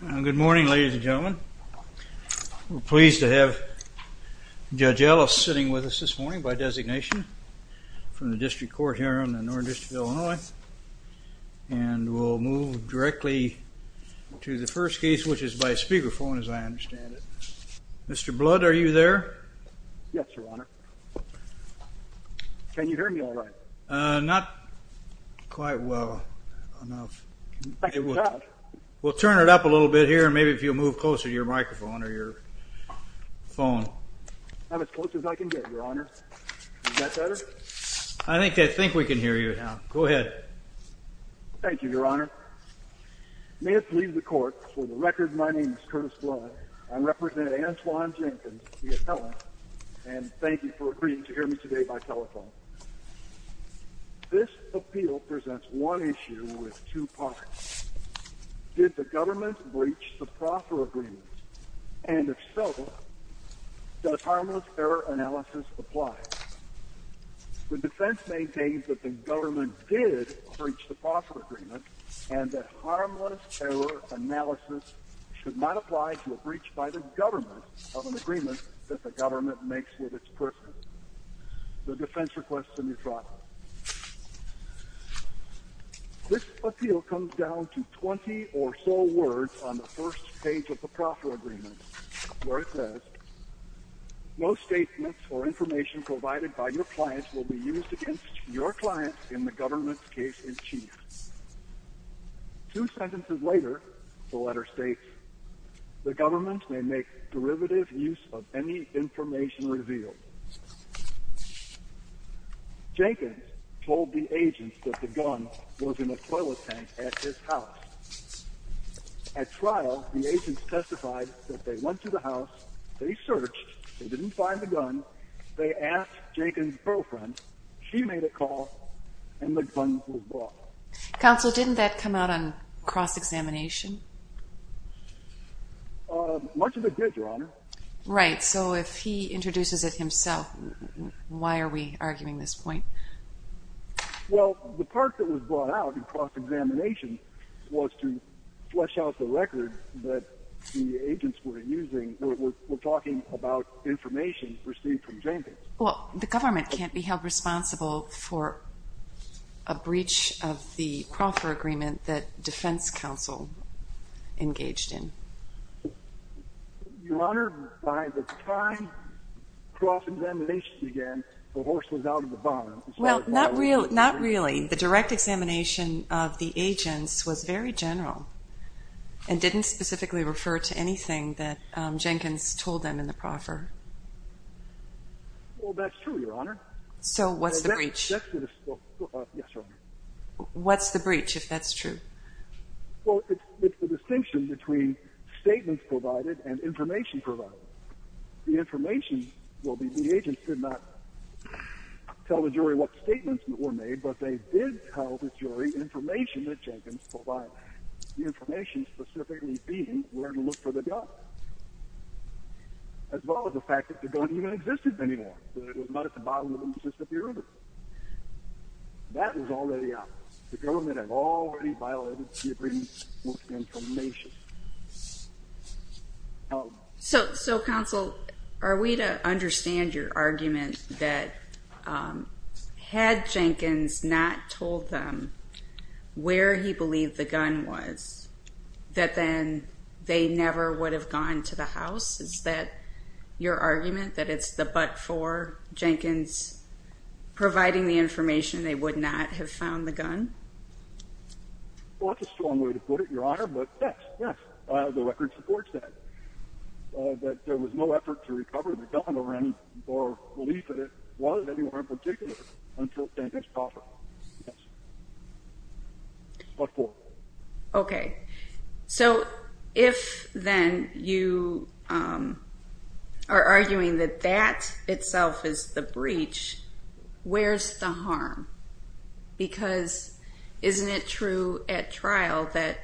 Good morning ladies and gentlemen. We're pleased to have Judge Ellis sitting with us this morning by designation from the District Court here on the North District of Illinois and we'll move directly to the first case which is by speakerphone as I understand it. Mr. Blood are you there? Yes your honor. Can you hear me all right? Not quite well enough. We'll turn it up a little bit here and maybe if you'll move closer to your microphone or your phone. I'm as close as I can get your honor. Is that better? I think I think we can hear you now. Go ahead. Thank you your honor. May it please the court for the record my name is Curtis Blood. I'm representing Antwon Jenkins v. Ellis and thank you for agreeing to hear me today by telephone. This appeal presents one issue with two parts. Did the government breach the proffer agreement and if so, does harmless error analysis apply? The defense maintains that the government did breach the proffer agreement and that harmless error analysis should not apply to a breach by government of an agreement that the government makes with its person. The defense requests a neutrality. This appeal comes down to 20 or so words on the first page of the proffer agreement where it says no statements or information provided by your clients will be used against your clients in the government's case in chief. Two sentences later the letter states the government may make derivative use of any information revealed. Jenkins told the agents that the gun was in a toilet tank at his house. At trial the agents testified that they went to the house, they searched, they didn't find the gun, they asked Jenkins' girlfriend, she made a call, and the gun was brought. Counsel, didn't that come out on cross-examination? Much of it did, your honor. Right, so if he introduces it himself, why are we arguing this point? Well, the part that was brought out in cross-examination was to flesh out the record that the agents were using, were talking about received from Jenkins. Well, the government can't be held responsible for a breach of the proffer agreement that defense counsel engaged in. Your honor, by the time cross-examination began, the horse was out of the barn. Well, not really. The direct examination of the agents was very Well, that's true, your honor. So what's the breach? Yes, your honor. What's the breach, if that's true? Well, it's the distinction between statements provided and information provided. The information will be the agents did not tell the jury what statements were made, but they did tell the jury information that Jenkins provided. The information specifically being where to look for the gun, as well as the fact that the gun didn't even exist anymore. It was not at the bottom of the list of the river. That was already out. The government had already violated the agreement with information. So, counsel, are we to understand your argument that had Jenkins not told them where he believed the gun was, that then they never would have gone to the house? Is that your argument, that it's the but for Jenkins providing the information they would not have found the gun? Well, that's a strong way to put it, your honor, but yes, yes, the record supports that, that there was no effort to recover the gun or belief that it was anywhere in particular until Jenkins provided it. Yes. What for? Okay, so if then you are arguing that that itself is the breach, where's the harm? Because isn't it true at trial that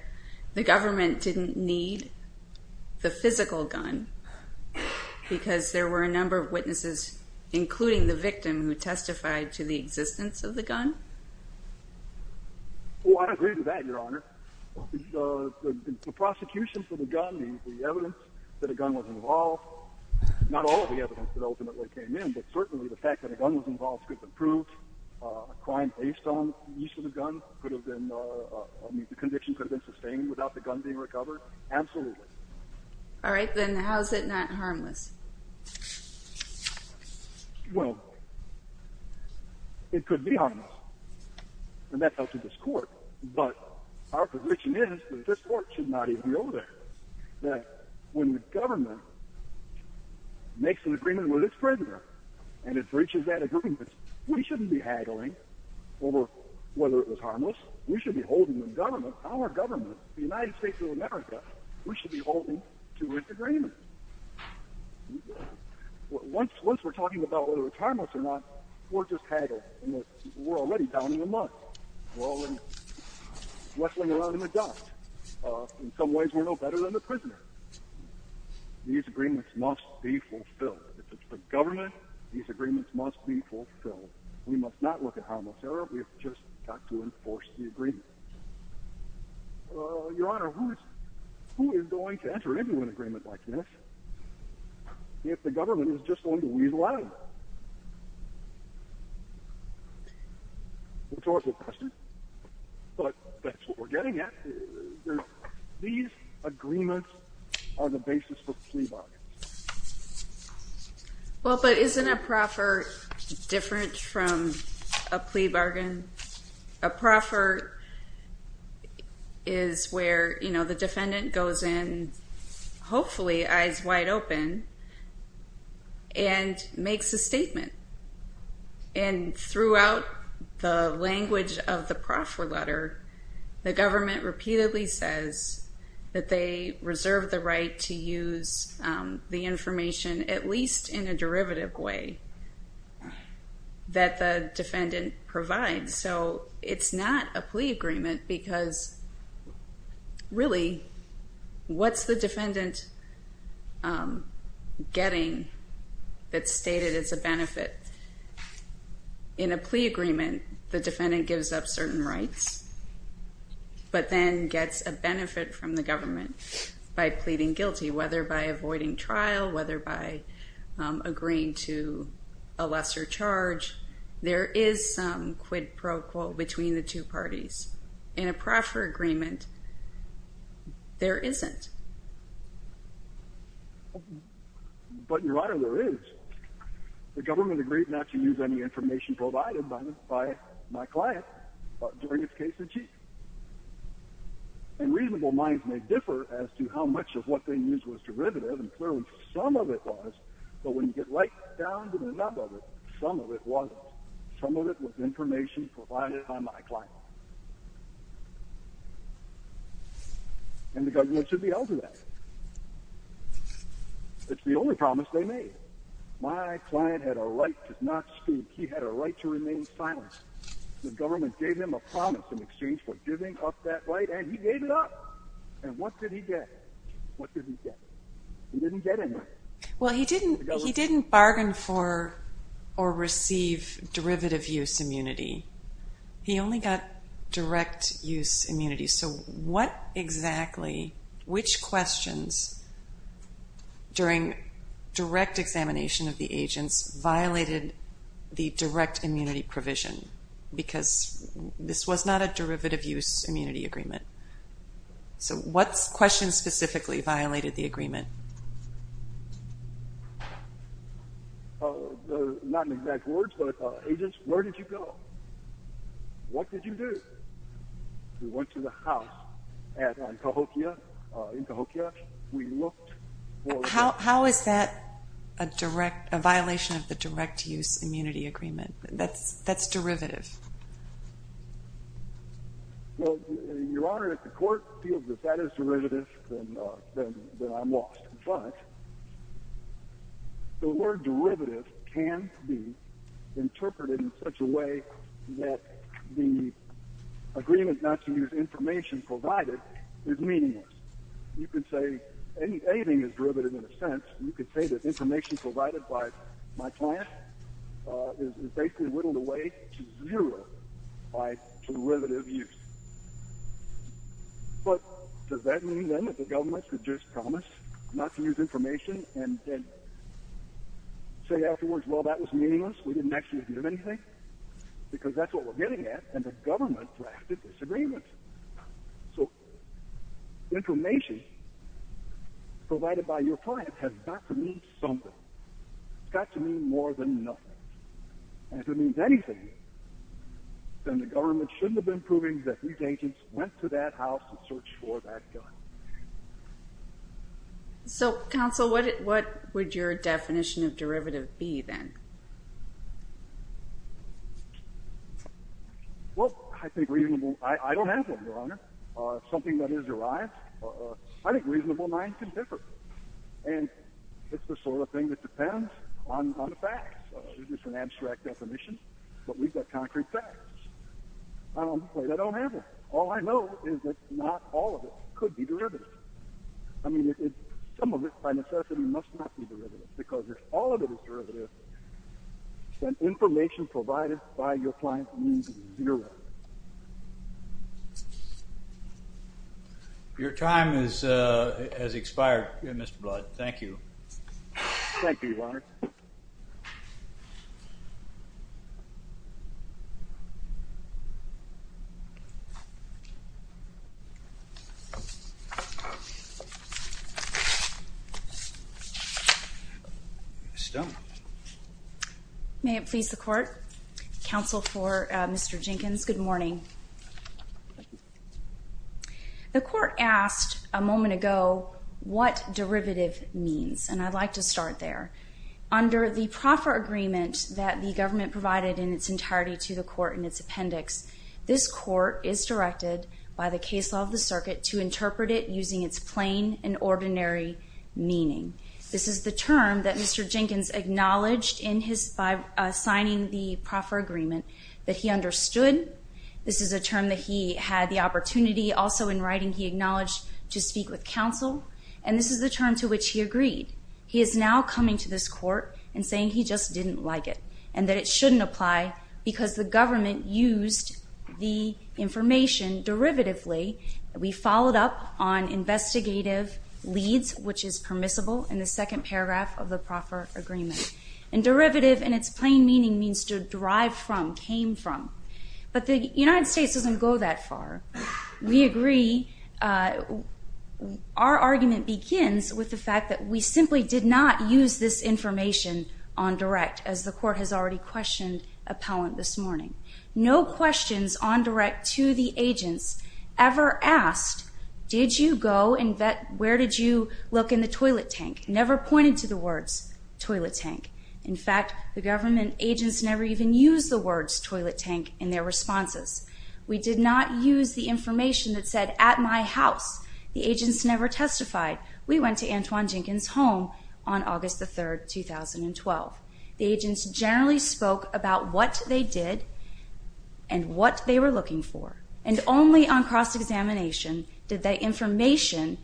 the government didn't need the physical gun because there were a number of witnesses, including the victim, who testified to the existence of the gun? Well, I agree with that, your honor. The prosecution for the gun, the evidence that a gun was involved, not all of the evidence that ultimately came in, but certainly the fact that a gun was involved could have been proved. A crime based on use of the gun could have been, I mean, the conviction could have been sustained without the gun being recovered? Absolutely. All right, then how is it not harmless? Well, it could be harmless and that's up to this court, but our position is that this court should not even be over there. That when the government makes an agreement with its prisoner and it breaches that agreement, we shouldn't be haggling over whether it was harmless. We should be holding the government, our government, the United States of America, we should be holding to its agreement. Once we're talking about whether it's harmless or not, we're just haggling and we're already down in the mud. We're already wrestling around in the dust. In some ways we're no better than the prisoner. These agreements must be fulfilled. If it's for government, these agreements must be fulfilled. We must not look at harmless error. We've just got to enforce the agreement. Your Honor, who is going to enter into an agreement like this if the government is just going to weasel out of it? It's always a question, but that's what we're getting at. These agreements are the basis for a plea bargain. Isn't a proffer different from a plea bargain? A proffer is where the defendant goes in, hopefully eyes wide open, and makes a statement. Throughout the language of the proffer letter, the government repeatedly says that they reserve the right to use the information, at least in a derivative way, that the defendant provides. It's not a plea agreement because really, what's the defendant getting that's stated as a benefit? In a plea agreement, the defendant gives up certain rights, but then gets a benefit from the government by pleading guilty, whether by avoiding trial, whether by agreeing to a lesser charge. There is some quid pro quo between the two parties. In a proffer agreement, there isn't. But, Your Honor, there is. The government agrees not to use any information provided by my client during his case in chief. And reasonable minds may differ as to how much of what they use was derivative, and clearly some of it was, but when you get right down to the rub of it, some of it wasn't. Some of it was information provided by my client. And the government should be held to that. It's the only promise they made. My client had a right to remain silent. The government gave him a promise in exchange for giving up that right, and he gave it up. And what did he get? He didn't get anything. Well, he didn't bargain for or receive derivative use immunity. He only got direct use immunity. So what exactly, which questions during direct examination of the agents violated the direct immunity provision? Because this was not a derivative use immunity agreement. So what questions specifically violated the agreement? Not in exact words, but agents, where did you go? What did you do? We went to the house at Cahokia. In Cahokia, we looked for... How is that a direct, a violation of the direct use immunity agreement? That's derivative. Well, your honor, if the court feels that that is derivative, then I'm lost. But the word derivative can be interpreted in such a way that the agreement not to use information provided is meaningless. You can say anything is derivative in a sense. You can say that information provided by my client is basically whittled away to zero by derivative use. But does that mean then that the government could just promise not to use information and then say afterwards, well, that was meaningless? We didn't actually give anything? Because that's what we're getting at, and the government drafted disagreements. So information provided by your client has got to mean something. It's got to mean more than nothing. And if it means anything, then the government shouldn't have been proving that these agents went to that house to search for that gun. So counsel, what would your something that is derived? I think reasonable minds can differ. And it's the sort of thing that depends on the facts. It's an abstract definition, but we've got concrete facts. I don't have them. All I know is that not all of it could be derivative. I mean, some of it by necessity must not be derivative, because if all of it is derivative, then information provided by your client means zero. Your time has expired, Mr. Blood. Thank you. Ms. Stone. May it please the Court. Counsel for Mr. Jenkins, good morning. The Court asked a moment ago what derivative means, and I'd like to start there. Under the proffer agreement that the government provided in its entirety to the Court in its appendix, this Court is directed by the case law of the circuit to interpret it using its plain and ordinary meaning. This is the term that Mr. Jenkins acknowledged by signing the proffer agreement that he understood. This is a term that he had the opportunity also in writing he acknowledged to speak with counsel. And this is the term to which he agreed. He is now coming to this Court and saying he just didn't like it, and that it shouldn't apply because the government used the information derivatively. We followed up on investigative leads, which is permissible, in the second paragraph of the proffer agreement. And derivative in its plain meaning means to derive from, came from. But the United States doesn't go that far. We agree. Our argument begins with the fact that we simply did not use this information on direct, as the Court has already questioned appellant this morning. No questions on direct to the agents ever asked, did you go and where did you look in the toilet tank? Never pointed to the words, toilet tank. In fact, the government agents never even used the words toilet tank in their responses. We did not use the information that said at my house. The agents never testified. We went to Antoine Jenkins' home on August the 3rd, 2012. The agents generally spoke about what they did and what they were looking for. And only on cross-examination did that information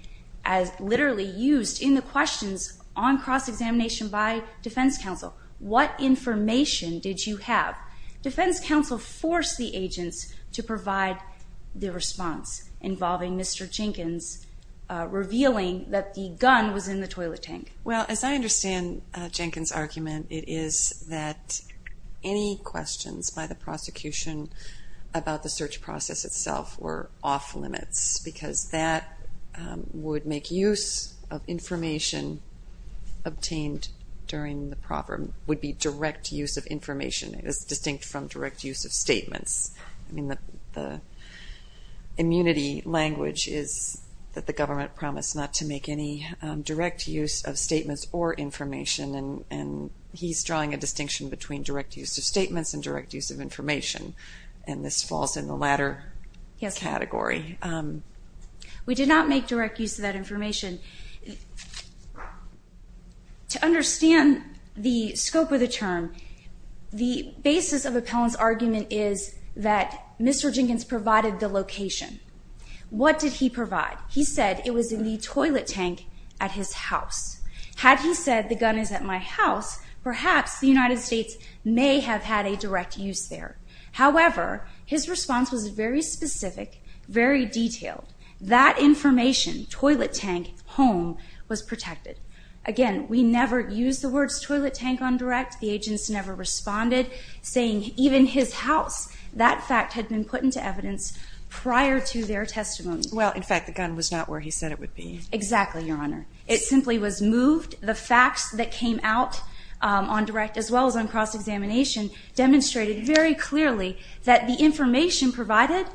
as literally used in the questions on cross-examination by defense counsel. What information did you have? Defense counsel forced the agents to provide the response involving Mr. Jenkins, revealing that the gun was in the toilet tank. Well, as I understand Jenkins' argument, it is that any questions by the prosecution about the search process itself were off limits because that would make use of information obtained during the problem would be direct use of information. It is distinct from direct use of statements. I mean the immunity language is that the government promised not to make any direct use of statements or information and he's drawing a distinction between direct use of statements and direct use of information and this falls in the latter category. We did not make direct use of that information. To understand the scope of the term, the basis of Appellant's argument is that Mr. Jenkins provided the location. What did he provide? He said it was in the toilet tank at his house. Had he said the gun is at my house, perhaps the United States may have had a direct use there. However, his response was very specific, very detailed. That information, toilet tank, home, was protected. Again, we never used the words toilet tank on direct. The agents never responded, saying even his house. That fact had been put into evidence prior to their testimony. Well, in fact, the gun was not where he said it would be. Exactly, Your Honor. It simply was moved. The facts that came out on direct as well as on cross-examination demonstrated very clearly that the information provided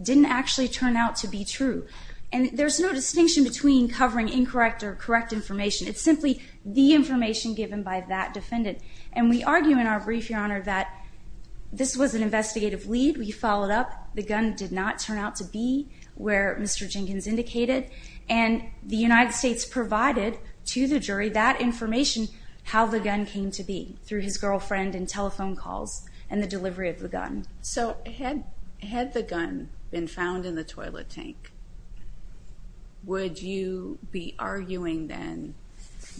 didn't actually turn out to be true and there's no distinction between covering incorrect or correct information. It's simply the information given by that defendant and we argue in our brief, Your Honor, that this was an investigative lead. We followed up. The gun did not turn out to be where Mr. Jenkins indicated and the United States provided to the jury that information, how the gun came to be, through his girlfriend and telephone calls and the delivery of the gun. So had the gun been found in the toilet tank, would you be arguing then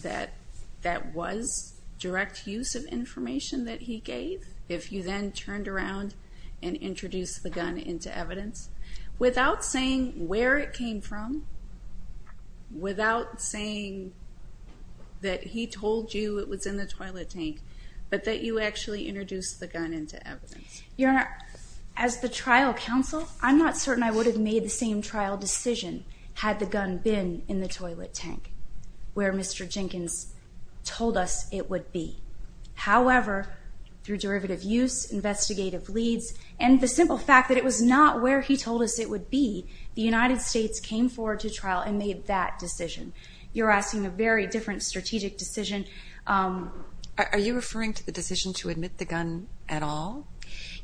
that that was direct use of information that he gave if you then turned around and introduced the gun into evidence without saying where it came from, without saying that he told you it was in the toilet tank, but that you actually introduced the gun into evidence? Your Honor, as the trial counsel, I'm not certain I would have made the same trial decision had the gun been in the toilet tank where Mr. Jenkins told us it would be. However, through derivative use, investigative leads, and the simple fact that it was not where he told us it would be, the United States came forward to trial and made that decision. You're asking a very different strategic decision. Are you referring to the decision to admit the gun at all?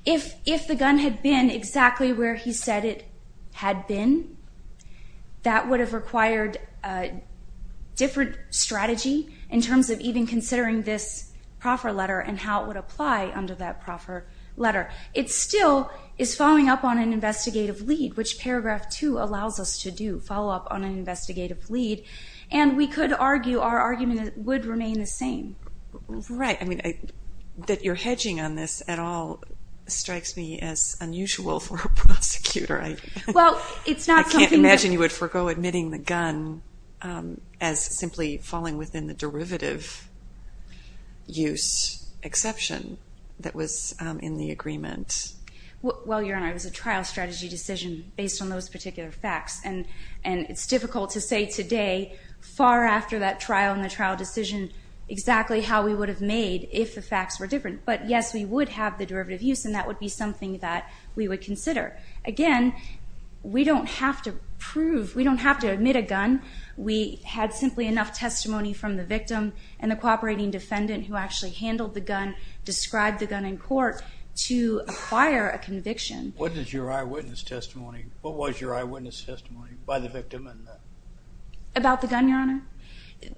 If the gun had been exactly where he said it had been, that would have required a different strategy in terms of even considering this proffer letter and how it would apply under that proffer letter. It still is following up on an investigative lead, which paragraph two allows us to do, follow up on an investigative lead, and we could argue our argument would remain the same. Right. I mean, that you're hedging on this at all strikes me as unusual for a prosecutor. I can't imagine you would forego admitting the gun as simply falling within the derivative use exception that was in the agreement. Well, Your Honor, it was a trial strategy decision based on those particular facts, and it's difficult to say today far after that trial and the trial decision exactly how we would have made if the facts were different. But yes, we would have the derivative use, and that would be something that we would consider. Again, we don't have to prove, we don't have to admit a gun. We had simply enough testimony from the cooperating defendant who actually handled the gun, described the gun in court to acquire a conviction. What is your eyewitness testimony? What was your eyewitness testimony by the victim? About the gun, Your Honor?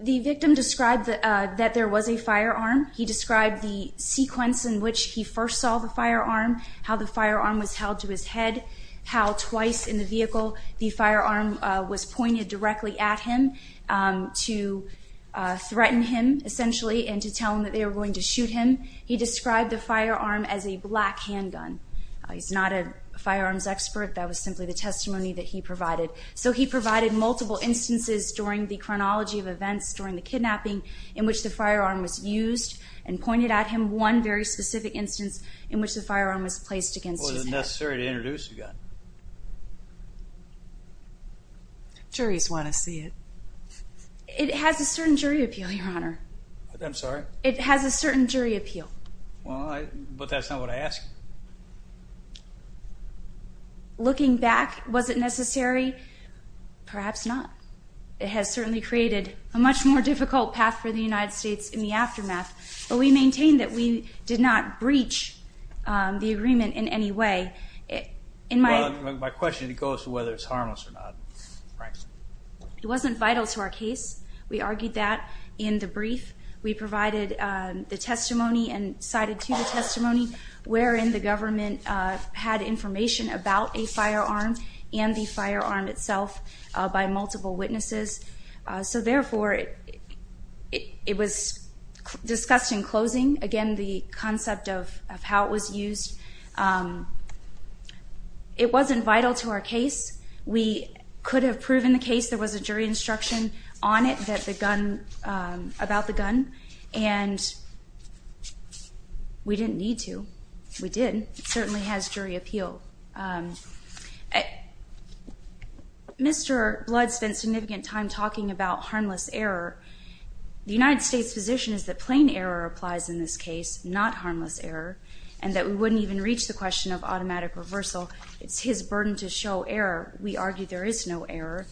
The victim described that there was a firearm. He described the sequence in which he first saw the firearm, how the firearm was held to his head, how twice in the vehicle the firearm was pointed directly at him to threaten him, essentially, and to tell him that they were going to shoot him. He described the firearm as a black handgun. He's not a firearms expert. That was simply the testimony that he provided. So he provided multiple instances during the chronology of events during the kidnapping in which the firearm was used and pointed at him. One very specific instance in which the firearm was placed against his head. Is it necessary to introduce a gun? Juries want to see it. It has a certain jury appeal, Your Honor. I'm sorry? It has a certain jury appeal. Well, but that's not what I asked. Looking back, was it necessary? Perhaps not. It has certainly created a much more difficult path for the United States in the aftermath, but we maintain that we did not breach the agreement in any way. My question goes to whether it's harmless or not. It wasn't vital to our case. We argued that in the brief. We provided the testimony and cited to the testimony wherein the government had information about a firearm and the firearm itself by multiple witnesses. So therefore, it was discussed in closing. Again, the concept of how it was used. It wasn't vital to our case. We could have proven the case. There was a jury instruction on it that the gun, about the gun, and we didn't need to. We did. It certainly has jury appeal. Mr. Blood spent significant time talking about harmless error. The United States position is that plain error applies in this case, not harmless error, and that we wouldn't even reach the question of automatic reversal. It's his burden to show error. We argue there is no error,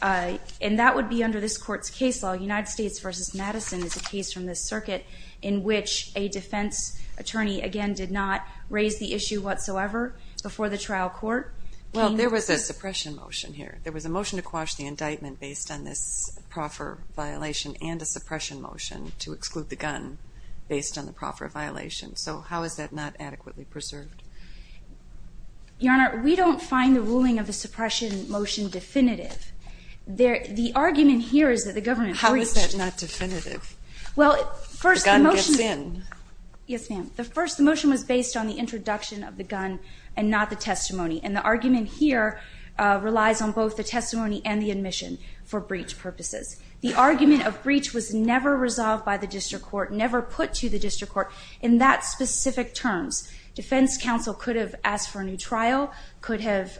and that would be under this Court's case law. United States v. Madison is a case from this circuit in which a defense attorney, again, did not raise the issue whatsoever. There was a suppression motion here. There was a motion to quash the indictment based on this proffer violation and a suppression motion to exclude the gun based on the proffer violation. So how is that not adequately preserved? Your Honor, we don't find the ruling of the suppression motion definitive. The argument here is that the government... How is that not definitive? Well, first, the motion... The gun gets in. Yes, ma'am. First, the motion was based on the introduction of the gun and not the testimony, and the argument here relies on both the testimony and the admission for breach purposes. The argument of breach was never resolved by the district court, never put to the district court in that specific terms. Defense counsel could have asked for a new trial, could have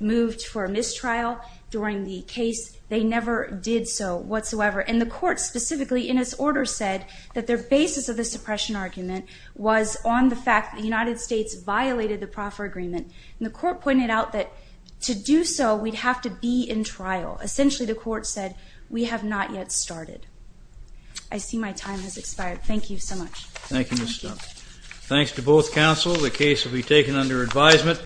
moved for a mistrial during the case. They never did so whatsoever, and the court specifically in its order said that their basis of the suppression argument was on the fact that the United States violated the proffer agreement, and the court pointed out that to do so, we'd have to be in trial. Essentially, the court said, we have not yet started. I see my time has expired. Thank you so much. Thank you, Ms. Stone. Thanks to both counsel. The case will be taken under advisement.